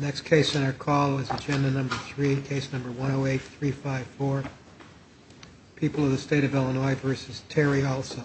Next case in our call is agenda number 3, case number 108354, People of the State of Illinois v. Terry Alsup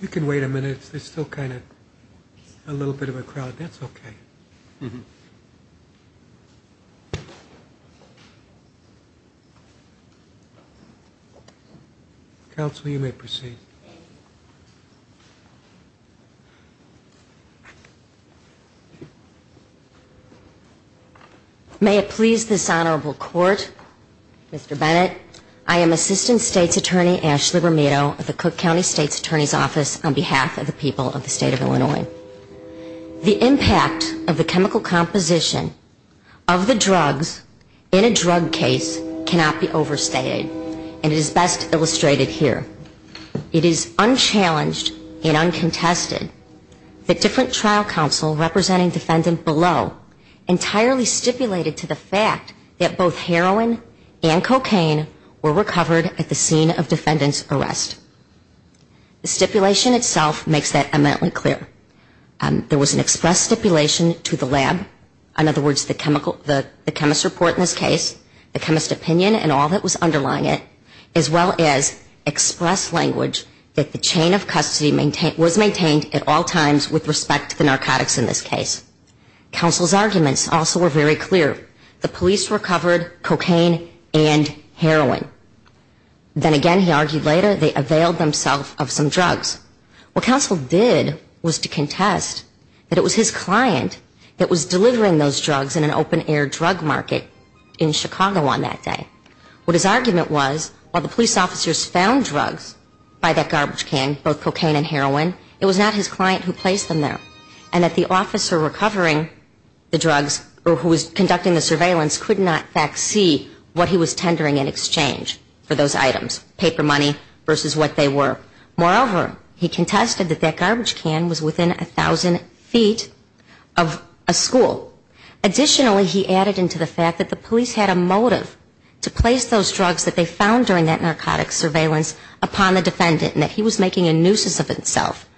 You can wait a minute. There's still kind of a little bit of a crowd. That's okay. Counsel, you may proceed. May it please this honorable court, Mr. Bennett, I am Assistant State's Attorney Ashley Romito of the Cook County State's Attorney's Office on behalf of the people of the State of Illinois. The impact of the chemical composition of the drugs in a drug case cannot be overstated. And it is best illustrated here. It is unchallenged and uncontested that different trial counsel representing defendant below entirely stipulated to the fact that both heroin and cocaine were recovered at the scene of defendant's arrest. The stipulation itself makes that eminently clear. There was an express stipulation to the lab, in other words, the chemical, the chemist's report in this case, the chemist's opinion and all that was underlying it, as well as express language that the chain of custody was maintained at all times with respect to the narcotics in this case. Counsel's arguments also were very clear. The police recovered cocaine and heroin. Then again, he argued later, they availed themselves of some drugs. What counsel did was to contest that it was his client that was delivering those drugs in an open air drug market in Chicago on that day. What his argument was, while the police officers found drugs by that garbage can, both cocaine and heroin, it was not his client who placed them there. And that the officer recovering the drugs or who was conducting the surveillance could not in fact see what he was tendering in exchange for those items, paper money versus what they were. Moreover, he contested that that garbage can was within 1,000 feet of a school. Additionally, he added into the fact that the police had a motive to place those drugs that they found during that narcotics surveillance upon the defendant and that he was making a nuisance of himself,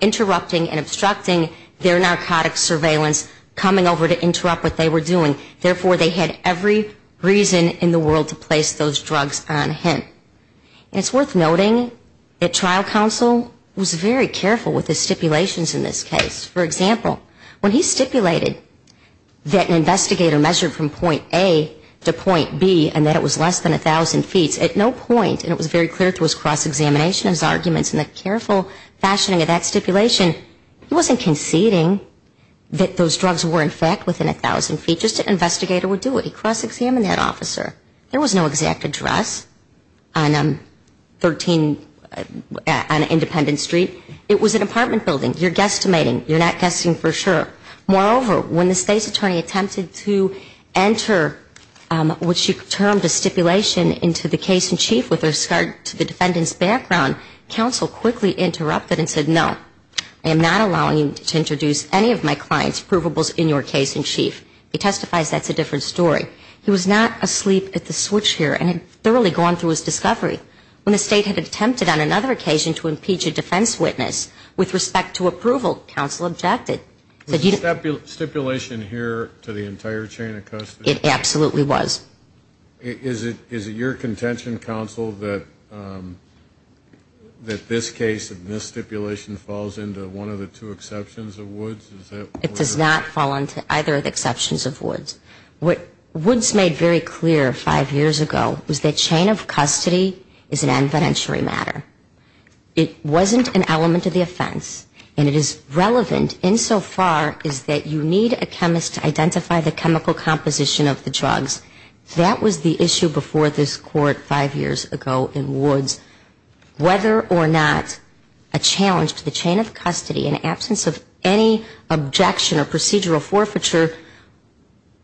interrupting and obstructing their narcotics surveillance, coming over to interrupt what they were doing. Therefore, they had every reason in the world to place those drugs on him. And it's worth noting that trial counsel was very careful with his stipulations in this case. For example, when he stipulated that an investigator measured from point A to point B and that it was less than 1,000 feet, at no point, and it was very clear through his cross-examination, his arguments and the careful fashioning of that stipulation, he wasn't conceding that those drugs were in fact within 1,000 feet. He crossed-examined that officer. There was no exact address on 13, on Independence Street. It was an apartment building. You're guesstimating. You're not guessing for sure. Moreover, when the state's attorney attempted to enter what she termed a stipulation into the case in chief with regard to the defendant's background, counsel quickly interrupted and said, no, I am not allowing you to introduce any of my client's provables in your case in chief. He testifies that's a different story. He was not asleep at the switch here and had thoroughly gone through his discovery. When the state had attempted on another occasion to impeach a defense witness with respect to approval, counsel objected. And so far, it's that you need a chemist to identify the chemical composition of the drugs. That was the issue before this court five years ago in Woods. Whether or not a challenge to the chain of custody in absence of any objection or procedural forfeiture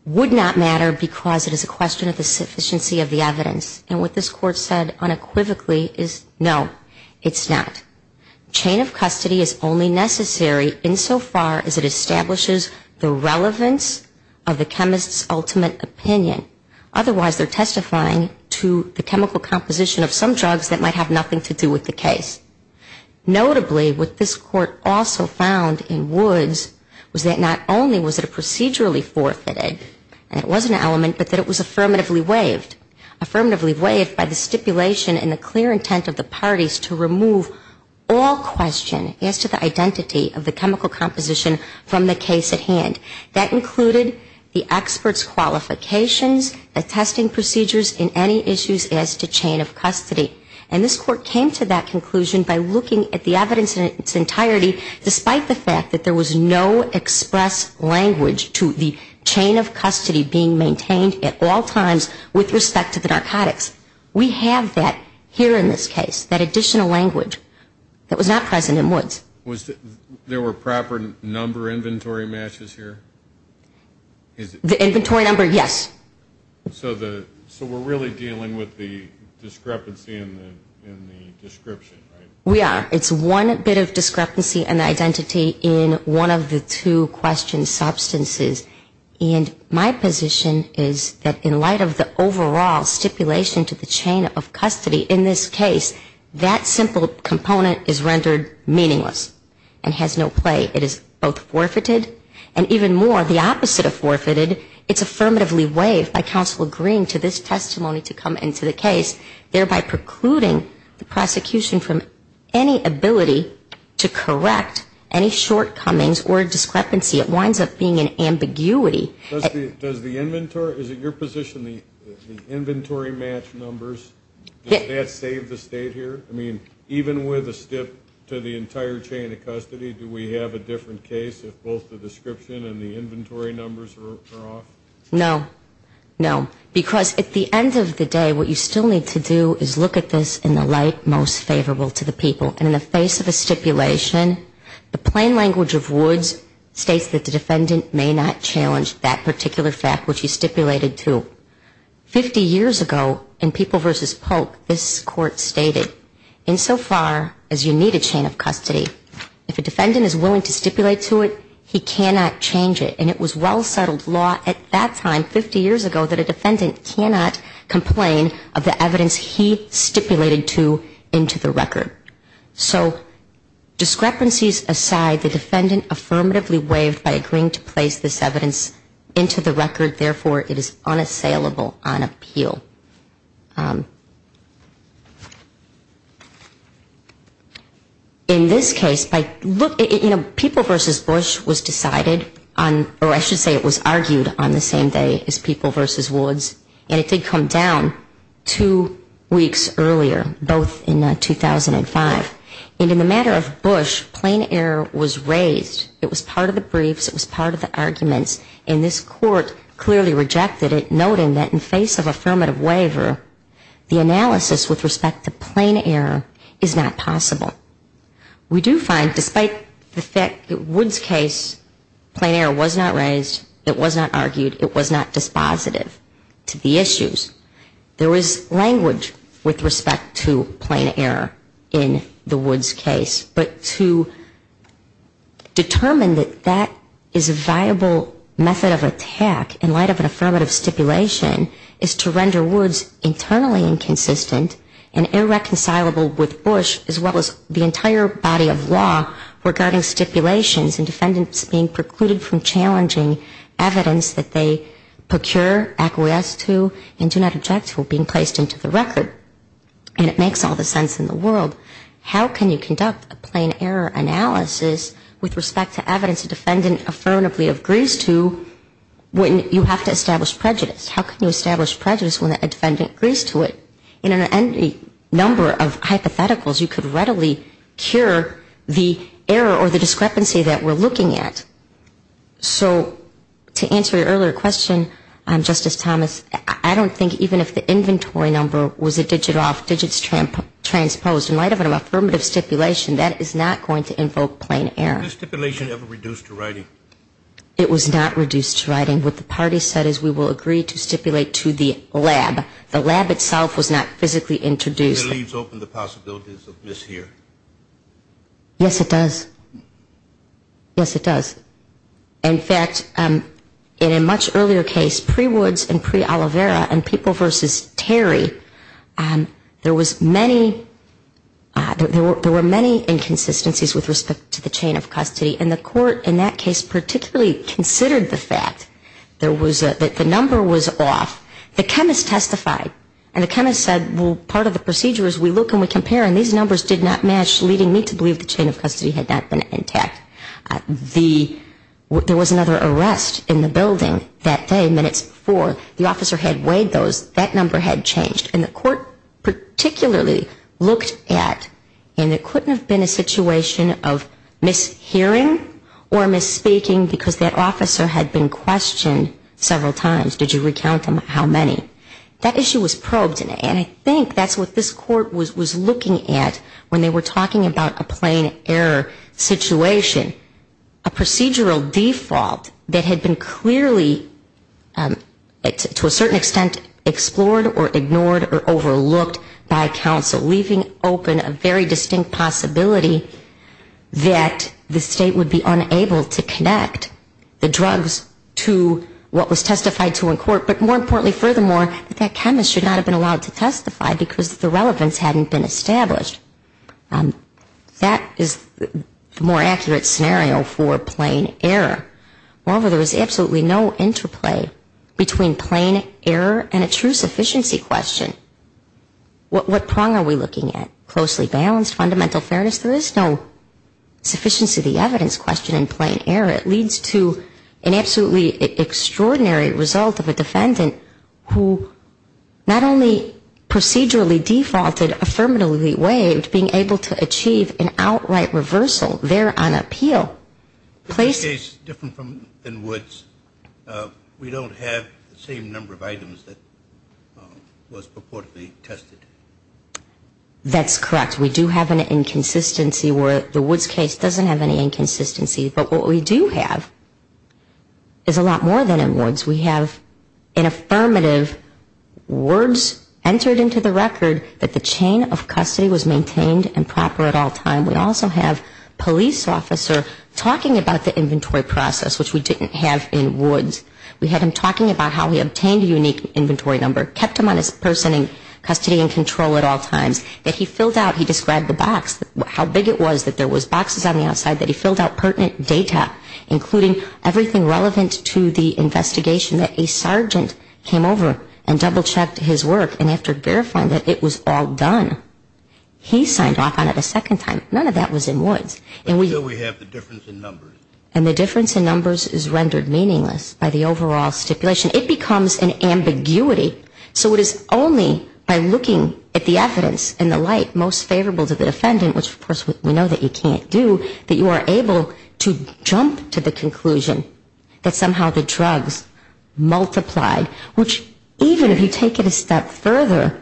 would not matter because it is a question of the sufficiency of the evidence. And what this court said unequivocally is no, it's not. Chain of custody is only necessary insofar as it establishes the relevance of the chemist's ultimate opinion. Otherwise, they're testifying to the chemical composition of some drugs that might have nothing to do with the case. Notably, what this court also found in Woods was that not only was it a procedurally forfeited, and it was an element, but that it was affirmatively waived. Affirmatively waived by the stipulation and the clear intent of the parties to remove all question as to the identity of the chemical composition from the case at hand. That included the expert's qualifications, attesting procedures in any issues as to chain of custody. And this court came to that conclusion by looking at the evidence in its entirety, despite the fact that there was no express language to the chain of custody being maintained at all times with respect to the evidence. With respect to the narcotics, we have that here in this case, that additional language that was not present in Woods. There were proper number inventory matches here? The inventory number, yes. So we're really dealing with the discrepancy in the description, right? We are. It's one bit of discrepancy and identity in one of the two question substances. And my position is that in light of the overall stipulation to the chain of custody in this case, that simple component is rendered meaningless and has no play. It is both forfeited, and even more, the opposite of forfeited, it's affirmatively waived by counsel agreeing to this testimony to come into the case, thereby precluding the prosecution from any ability to correct any shortcomings or discrepancy. It winds up being an ambiguity. Does the inventory, is it your position the inventory match numbers, does that save the state here? I mean, even with a stip to the entire chain of custody, do we have a different case if both the description and the inventory numbers are off? No. No. Because at the end of the day, what you still need to do is look at this in the light most favorable to the people. And in the face of a stipulation, the plain language of Woods states that the defendant may not challenge that particular fact which he stipulated to. Fifty years ago in People v. Polk, this Court stated, insofar as you need a chain of custody, if a defendant is willing to stipulate to it, he cannot change it. And it was well-settled law at that time, 50 years ago, that a defendant cannot complain of the evidence he stipulated to into the record. So discrepancies aside, the defendant affirmatively waived by agreeing to place this evidence into the record, therefore it is unassailable on appeal. In this case, by, you know, People v. Bush was decided on, or I should say it was argued on the same day as People v. Woods. And it did come down two weeks earlier, both in 2005. And in the matter of Bush, plain error was raised. It was part of the briefs, it was part of the arguments. And this Court clearly rejected it, noting that in face of affirmative waiver, the analysis with respect to plain error is not possible. We do find, despite the fact that Woods' case, plain error was not raised, it was not argued, it was not dispositive to the issues. There is language with respect to plain error in the Woods case. But to determine that that is a viable method of attack in light of an affirmative stipulation is to render Woods internally inconsistent and irreconcilable with Bush as well as the entire body of law regarding stipulations and defendants being precluded from challenging evidence that they procure, acquiesce to, and do not object to being placed into the record. And it makes all the sense in the world. How can you conduct a plain error analysis with respect to evidence a defendant affirmatively agrees to when you have to establish prejudice? How can you establish prejudice when a defendant agrees to it? In any number of hypotheticals, you could readily cure the error or the discrepancy that we're looking at. So to answer your earlier question, Justice Thomas, I don't think even if the inventory number was a discrepancy in the information, it would not be a discrepancy. It would not be a discrepancy. It would not be a discrepancy. And I think that's what we're trying to do. And I think that's what we're trying to do. In the case pre-Woods and pre-Olivera and people versus Terry, there was many, there were many inconsistencies with respect to the chain of custody. And the court in that case particularly considered the fact that the number was off. The chemist testified. And the chemist said, well, part of the procedure is we look and we compare and these numbers did not match, leading me to believe the chain of custody had not been intact. There was another arrest in the building that day, minutes before. The officer had weighed those. That number had changed. And the court particularly looked at, and it couldn't have been a situation of mishearing or misspeaking because that officer had been questioned several times. Did you recount them? How many? That issue was probed and I think that's what this court was looking at when they were talking about a plain error situation. A procedural default that had been clearly to a certain extent explored or ignored or overlooked by counsel. Leaving open a very distinct possibility that the state would be unable to connect the drugs to what was testified to in court. But more importantly, furthermore, that that chemist should not have been allowed to testify because the relevance hadn't been established. That is the more accurate scenario for plain error. However, there was absolutely no interplay between plain error and a true sufficiency question. What prong are we looking at? Closely balanced fundamental fairness. There is no sufficiency of the evidence question in plain error. It leads to an absolutely extraordinary result of a defendant who not only procedurally defaulted, affirmatively waived, being able to achieve an outright reversal there on appeal. In this case, different than Woods, we don't have the same number of items that was purportedly tested. That's correct, we do have an inconsistency where the Woods case doesn't have any inconsistency. But what we do have is a lot more than in Woods. We have an affirmative words entered into the record that the chain of custody was maintained and proper at all time. We also have police officer talking about the inventory process, which we didn't have in Woods. We had him talking about how he obtained a unique inventory number, kept him on his person in custody and control at all times. That he filled out, he described the box, how big it was, that there was boxes on the outside that he filled out pertinent data, including everything relevant to the investigation that a sergeant came over and double-checked his work. And after verifying that it was all done, he signed off on it a second time. None of that was in Woods. And the difference in numbers is rendered meaningless by the overall stipulation. It becomes an ambiguity, so it is only by looking at the evidence and the light most favorable to the defendant, which of course we know that you can't do, that you are able to jump to the conclusion that somehow the drugs multiplied, which even if you take it a step further,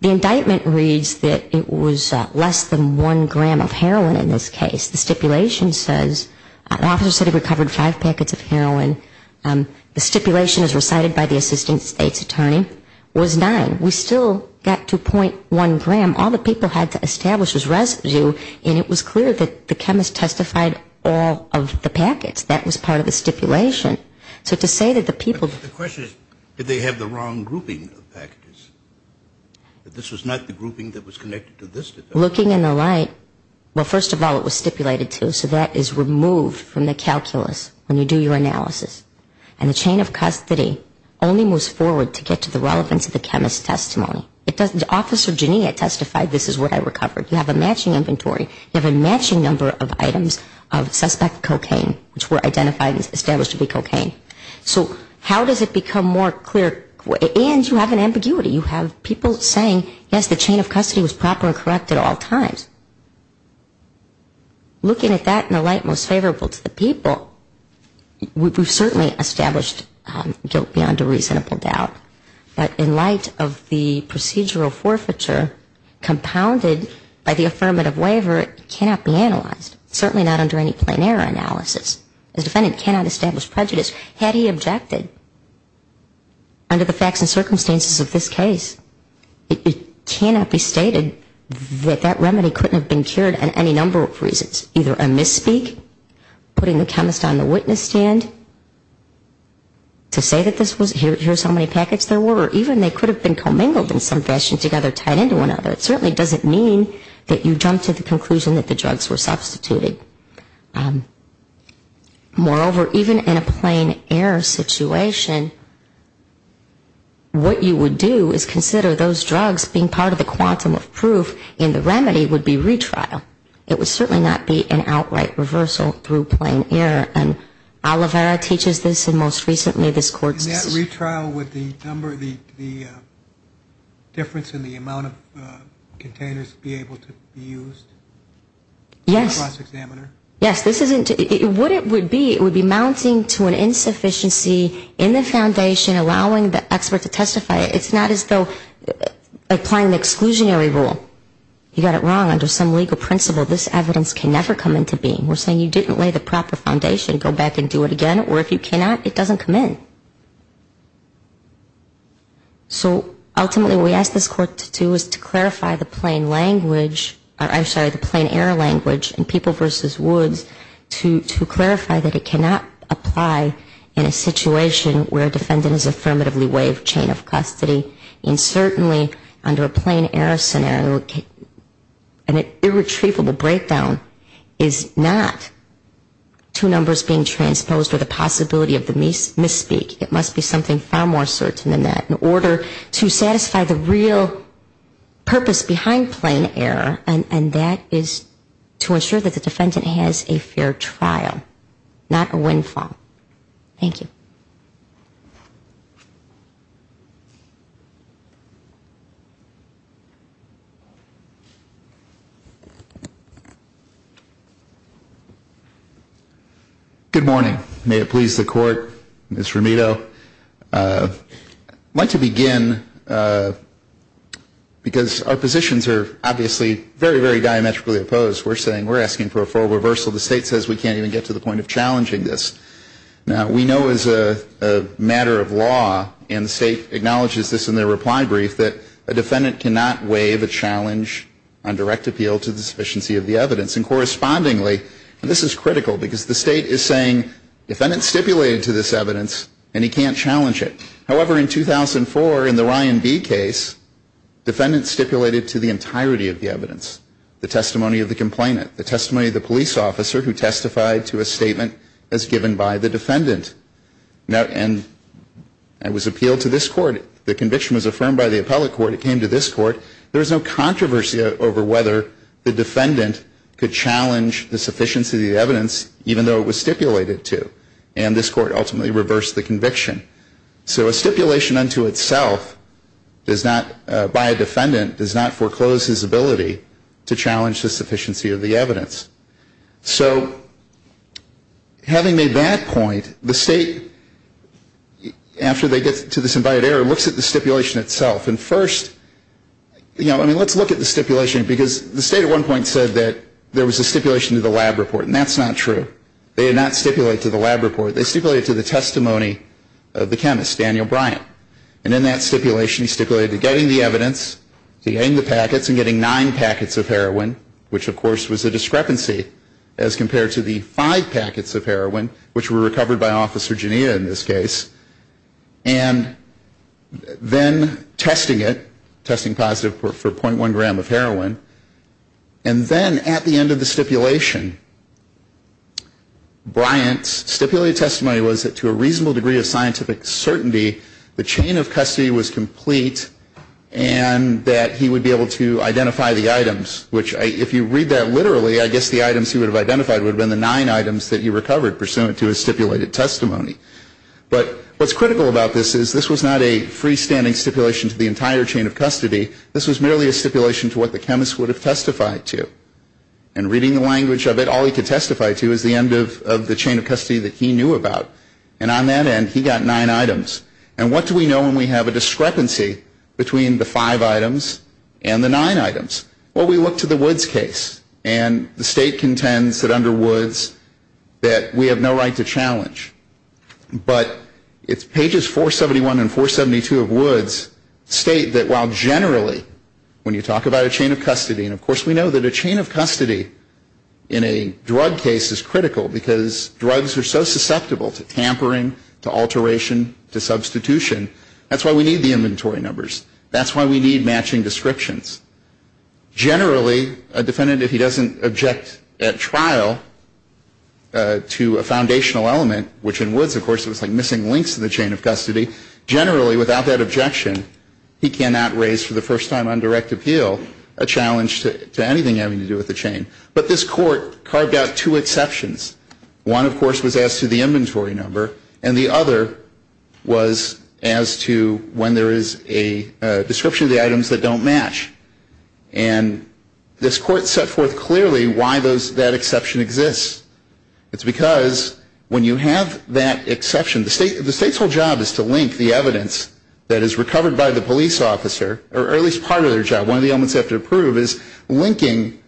the indictment reads that it was less than one gram of heroin in this case. The stipulation says, the officer said he recovered five packets of heroin. The stipulation as recited by the assistant state's attorney was nine. We still got to .1 gram. All the people had to establish was residue, and it was clear that the chemist testified all of the packets. That was part of the stipulation. So to say that the people. The question is, did they have the wrong grouping of packages? That this was not the grouping that was connected to this defendant? Looking in the light, well, first of all, it was stipulated to, so that is removed from the calculus when you do your analysis. And the chain of custody only moves forward to get to the relevance of the chemist's testimony. Officer Genia testified, this is what I recovered. You have a matching inventory, you have a matching number of items of suspect cocaine, which were identified and established to be cocaine. So how does it become more clear, and you have an ambiguity. You have people saying, yes, the chain of custody was proper and correct at all times. Looking at that in the light most favorable to the people, we've certainly established guilt beyond a reasonable doubt. But in light of the procedural forfeiture compounded by the affirmative waiver, it cannot be analyzed. Certainly not under any plain error analysis. The defendant cannot establish prejudice had he objected. Under the facts and circumstances of this case, it cannot be stated that that remedy couldn't have been cured for any number of reasons. Either a misspeak, putting the chemist on the witness stand to say that this was, here's how many packets there were, or even they could have been commingled in some fashion together, tied into one another. It certainly doesn't mean that you jump to the conclusion that the drugs were substituted. Moreover, even in a plain error situation, what you would do is consider those drugs being part of the quantum of proof, and the remedy would be retrial. It would certainly not be an outright reversal through plain error. And Olivera teaches this, and most recently this court's decision. In that retrial, would the difference in the amount of containers be able to be used? Yes. It would be mounting to an insufficiency in the foundation, allowing the expert to testify. It's not as though applying the exclusionary rule. You got it wrong under some legal principle, this evidence can never come into being. We're saying you didn't lay the proper foundation, go back and do it again, or if you cannot, it doesn't come in. So ultimately what we ask this court to do is to clarify the plain language, I'm sorry, the plain error language in People v. Woods to clarify that it cannot apply in a situation where a defendant is affirmatively waived chain of custody. And certainly under a plain error scenario, an irretrievable breakdown is not two numbers being transposed or the possibility of the misspeak, it must be something far more certain than that in order to satisfy the real purpose behind plain error, and that is to ensure that the defendant has a fair trial, not a windfall. Thank you. Good morning. May it please the court, Ms. Ramiro. I'd like to begin because our positions are obviously very, very diametrically opposed. We're saying we're asking for a full reversal, the State says we can't even get to the point of challenging this. Now, we know as a matter of law, and the State acknowledges this in their reply brief, that a defendant cannot waive a challenge on direct appeal to the sufficiency of the evidence, and correspondingly, and this is critical, because the State is saying defendant stipulated to this evidence, and he can't challenge it. However, in 2004, in the Ryan v. case, defendant stipulated to the entirety of the evidence. The testimony of the complainant, the testimony of the police officer who testified to a statement as given by the defendant, and it was appealed to this court. The conviction was affirmed by the appellate court. It came to this court. There was no controversy over whether the defendant could challenge the sufficiency of the evidence, even though it was stipulated to challenge the sufficiency of the evidence. So having made that point, the State, after they get to this invited error, looks at the stipulation itself. And first, you know, I mean, let's look at the stipulation, because the State at one point said that there was a stipulation to the lab report, and that's not true. They did not stipulate to the lab report. They stipulated to the testimony of the chemist, Daniel Bryant. And in that stipulation, he stipulated to getting the evidence, to getting the packets, and getting nine packets of heroin, which, of course, was a discrepancy as compared to the five packets of heroin, which were recovered by Officer Genia in this case. And then testing it, testing positive for .1 gram of heroin. And then at the end of the stipulation, Bryant's stipulated testimony was that to a reasonable degree of scientific certainty, the chain of custody was complete and that he would be able to identify the items, which if you read that literally, I guess the items he would have identified would have been the nine items that he recovered pursuant to his stipulated testimony. But what's critical about this is this was not a freestanding stipulation to the entire chain of custody. This was merely a stipulation to what the chemist would have testified to. And reading the language of it, all he could testify to is the end of the chain of custody that he knew about. And on that end, he got nine items. And what do we know when we have a discrepancy between the five items and the nine items? Well, we look to the Woods case, and the state contends that under Woods that we have no right to challenge. But it's pages 471 and 472 of Woods state that while generally when you talk about a chain of custody, and of course we know that a chain of custody in a drug case is critical because drugs are so susceptible to tampering, to alteration, to substitution, that's why we need the inventory numbers. That's why we need matching descriptions. Generally, a defendant, if he doesn't object at trial to a foundational element, which in Woods of course it was like missing links to the chain of custody, generally without that objection, he cannot raise for the first time on direct appeal a challenge to anything having to do with the chain. But this court carved out two exceptions. One of course was as to the inventory number, and the other was as to when there is a description of the items that don't match. And this court set forth clearly why that exception exists. It's because when you have that exception, the state's whole job is to link the evidence that is recovered by the police officer, or at least part of their job, one of the elements they have to approve, is linking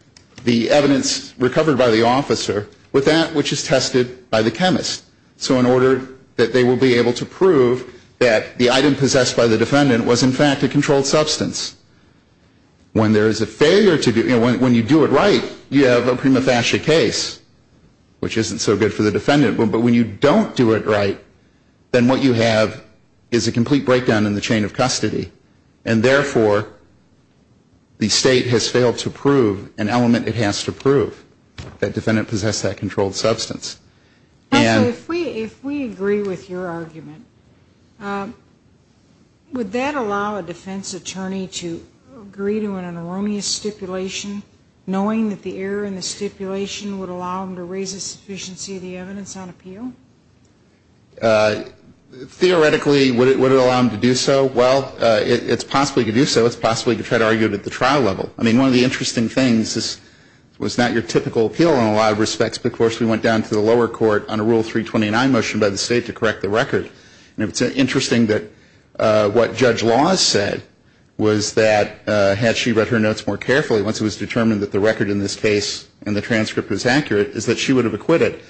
the evidence recovered by the officer with that which is tested by the chemist. So in order that they will be able to prove that the item possessed by the defendant was in fact a controlled substance. When there is a failure to do, when you do it right, you have a prima facie case, which isn't so good for the defendant. But when you don't do it right, then what you have is a complete breakdown in the chain of custody. And therefore, the state has failed to prove an element it has to prove, that defendant possessed that controlled substance. And so if we agree with your argument, would that allow a defense attorney to agree to an anomalous stipulation, knowing that the error in the stipulation would allow them to raise the sufficiency of the evidence on appeal? Theoretically, would it allow them to do so? Well, it's possible to do so. It's possible to try to argue it at the trial level. I mean, one of the interesting things, this was not your typical appeal in a lot of respects, but of course we went down to the lower court on a Rule 329 motion by the state to correct the record. And it's interesting that what Judge Laws said was that had she read her notes more carefully, once it was determined that the record in this case and the transcript was accurate, is that she would have acquitted.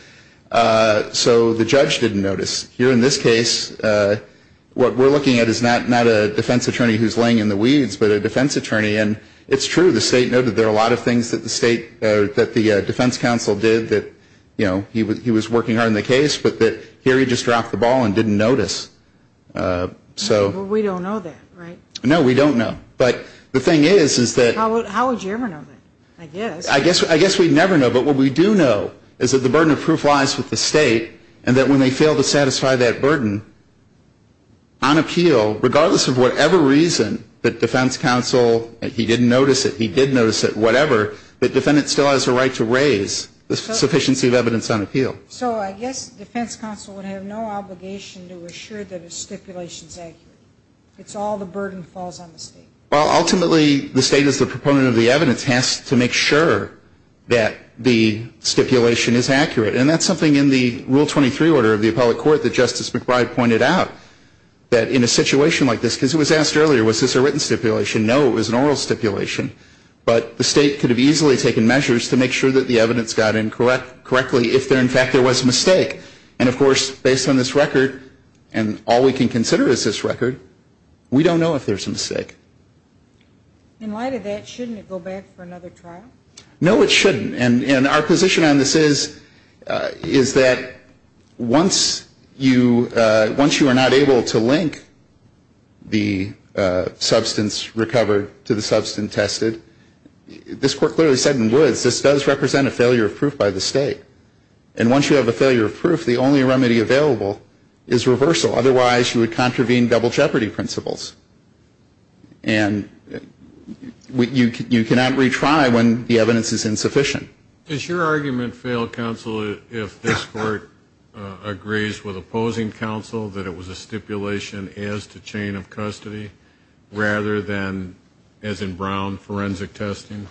So the judge didn't notice. Here in this case, what we're looking at is not a defense attorney who's laying in the weeds, but a defense attorney. And it's true, the state noted there are a lot of things that the defense counsel did, that he was working hard on the case, but here he just dropped the ball and didn't notice. Well, we don't know that, right? No, we don't know. But the thing is, is that... the proof lies with the state, and that when they fail to satisfy that burden on appeal, regardless of whatever reason that defense counsel, he didn't notice it, he did notice it, whatever, the defendant still has a right to raise the sufficiency of evidence on appeal. So I guess defense counsel would have no obligation to assure that a stipulation's accurate. It's all the burden falls on the state. Well, ultimately, the state is the proponent of the evidence, has to make sure that the stipulation is accurate. And that's something in the Rule 23 order of the appellate court that Justice McBride pointed out, that in a situation like this, because it was asked earlier, was this a written stipulation? No, it was an oral stipulation. But the state could have easily taken measures to make sure that the evidence got in correctly, if in fact there was a mistake. And of course, based on this record, and all we can consider as this record, we don't know if there's a mistake. In light of that, shouldn't it go back for another trial? No, it shouldn't. And our position on this is, is that once you, once you are not able to link the substance recovered to the substance tested, this court clearly said in Woods, this does represent a failure of proof by the state. And once you have a failure of proof, the only remedy available is reversal. Otherwise, you would contravene double jeopardy principles. And you cannot retry when the evidence is insufficient. Does your argument fail, counsel, if this court agrees with opposing counsel that it was a stipulation as to chain of custody, rather than, as in Brown, forensic testing?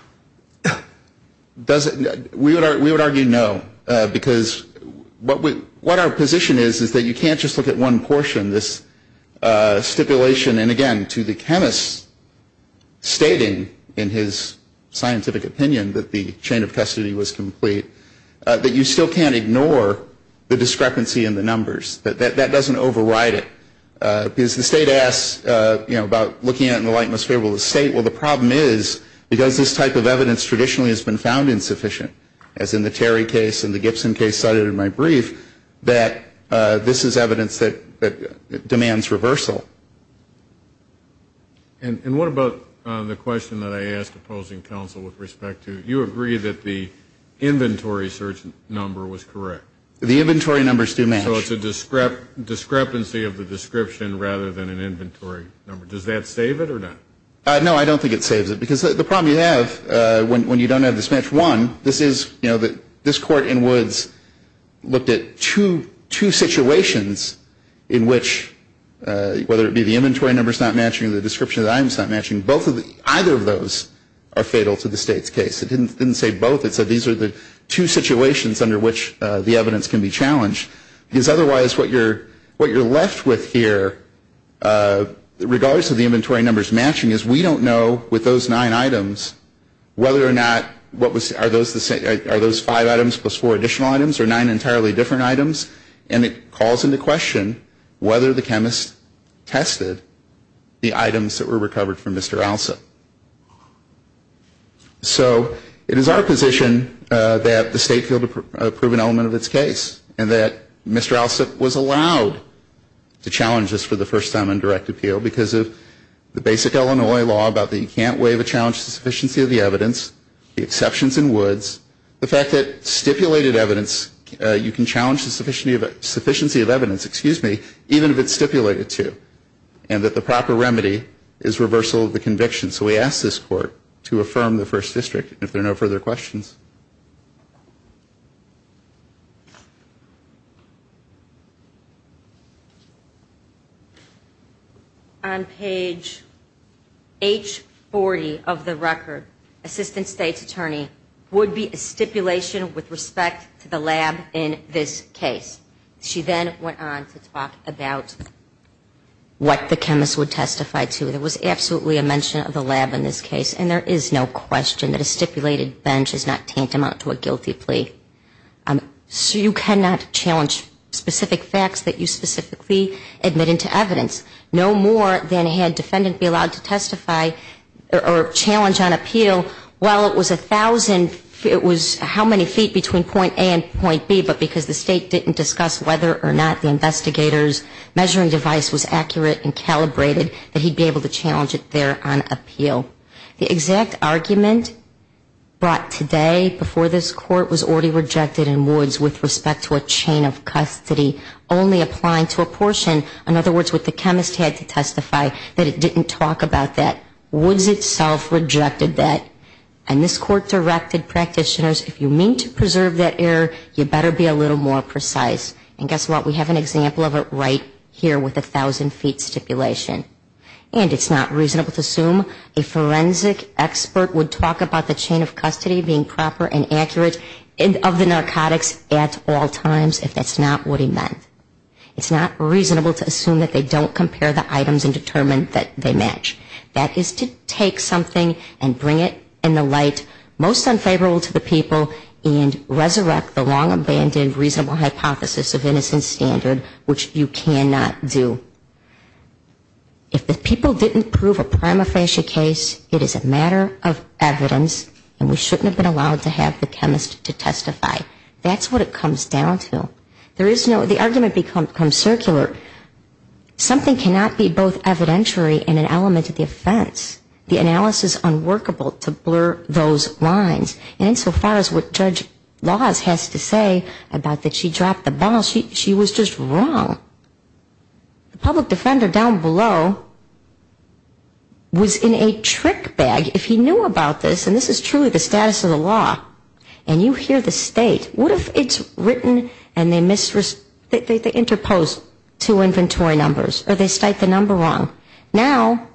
We would argue no. Because what our position is, is that you can't just look at one portion, this stipulation. And again, to the chemist stating in his scientific opinion that the chain of custody was complete, that you still can't ignore the discrepancy in the numbers. That doesn't override it. Because the state asks, you know, about looking at it in the light most favorable of the state. Well, the problem is, because this type of evidence traditionally has been found insufficient, as in the Terry case and the Gibson case cited in my brief, that this is evidence that demands reversal. And what about the question that I asked opposing counsel with respect to, you agree that the inventory search number was correct? The inventory numbers do match. So it's a discrepancy of the description rather than an inventory number. Does that save it or not? No, I don't think it saves it. Because the problem you have when you don't have this match, one, this is, you know, this court in Woods looked at two situations in which, whether it be the inventory numbers not matching or the description of items not matching, either of those are fatal to the state's case. It didn't say both. It said these are the two situations under which the evidence can be challenged. Because otherwise what you're left with here, regardless of the inventory numbers matching, is we don't know with those nine items whether or not, are those five items plus four additional items or nine entirely different items? And it calls into question whether the chemist tested the items that were recovered from Mr. Alsop. So it is our position that the state failed to prove an element of its case and that Mr. Alsop was allowed to challenge this for the first time in direct appeal because of the basic Illinois law about that you can't waive a challenge to the sufficiency of the evidence, the exceptions in Woods, the fact that stipulated evidence, you can challenge the sufficiency of evidence, excuse me, even if it's stipulated to, and that the proper remedy is reversal of the conviction. So we ask this Court to affirm the First District. If there are no further questions. On page H40 of the record, Assistant State's Attorney, would be a stipulation with respect to the lab in this case. She then went on to talk about what the chemist would testify to. There was absolutely a mention of the lab in this case, and there is no question that a stipulated bench is not tantamount to a guilty plea. So you cannot challenge specific facts that you specifically admit into evidence, no more than had defendant be allowed to testify or challenge on appeal, well, it was a thousand, it was how many feet between point A and point B, but because the state didn't discuss whether or not the investigator's measuring device was accurate and calibrated, that he'd be able to challenge it there on appeal. The exact argument brought today before this Court was already rejected in Woods with respect to a chain of custody only applying to a portion, in other words, what the chemist had to testify, that it didn't talk about that. Woods itself rejected that, and this Court directed practitioners, if you mean to preserve that error, you better be a little more precise. And guess what, we have an example of it right here with a thousand feet stipulation. And it's not reasonable to assume a forensic expert would talk about the chain of custody being proper and accurate of the narcotics at all times if that's not what he meant. It's not reasonable to assume that they don't compare the items and determine that they match. That is to take something and bring it in the light most unfavorable to the people and resurrect the long-abandoned reasonable hypothesis of innocent standard, which you cannot do. If the people didn't prove a prima facie case, it is a matter of evidence, and we shouldn't have been allowed to have the chemist to testify. That's what it comes down to. There is no, the argument becomes circular. Something cannot be both evidentiary and an element of the offense. The analysis is unworkable to blur those lines. And insofar as what Judge Laws has to say about that she dropped the ball, she was just wrong. The public defender down below was in a trick bag. If he knew about this, and this is truly the status of the law, and you hear the state, what if it's written and they interpose two inventory numbers, or they cite the number wrong? Now,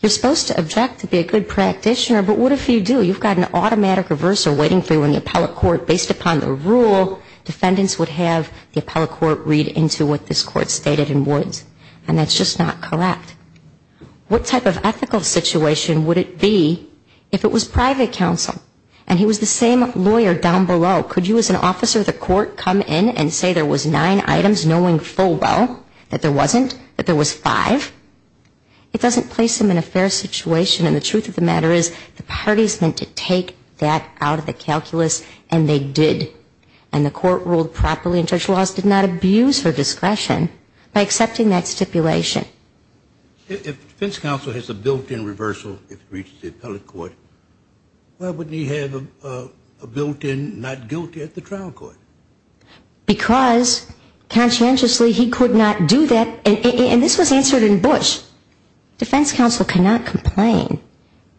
you're supposed to object to be a good practitioner, but what if you do? You've got an automatic reversal waiting for you in the appellate court based upon the rule. Defendants would have the appellate court read into what this court stated and would. And that's just not correct. What type of ethical situation would it be if it was private counsel and he was the same lawyer down below? Could you as an officer of the court come in and say there was nine items knowing full well that there wasn't, that there was five? It doesn't place him in a fair situation, and the truth of the matter is, the party is meant to take that out of the calculus, and they did. And the court ruled properly, and Judge Laws did not abuse her discretion by accepting that stipulation. If defense counsel has a built-in reversal if it reaches the appellate court, why wouldn't he have a built-in not guilty at the trial court? Because conscientiously he could not do that, and this was answered in Bush. Defense counsel cannot complain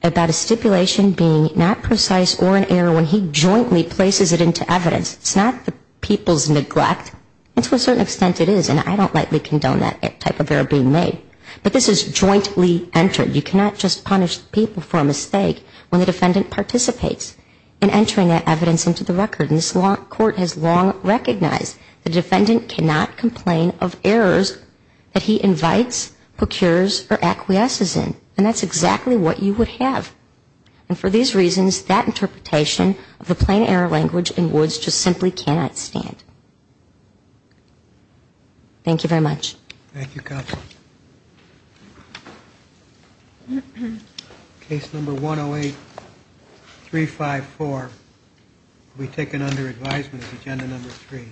about a stipulation being not precise or in error when he jointly places it into evidence. It's not the people's neglect, and to a certain extent it is, and I don't likely condone that type of error being made. But this is jointly entered. You cannot just punish people for a mistake when the defendant participates in entering that evidence into the record. And this court has long recognized the defendant cannot complain of errors that he invites, procures, or acquiesces in. And that's exactly what you would have. And for these reasons, that interpretation of the plain error language in Woods just simply cannot stand. Thank you very much. Thank you, counsel. Case number 108-354 will be taken under advisement of agenda number 3.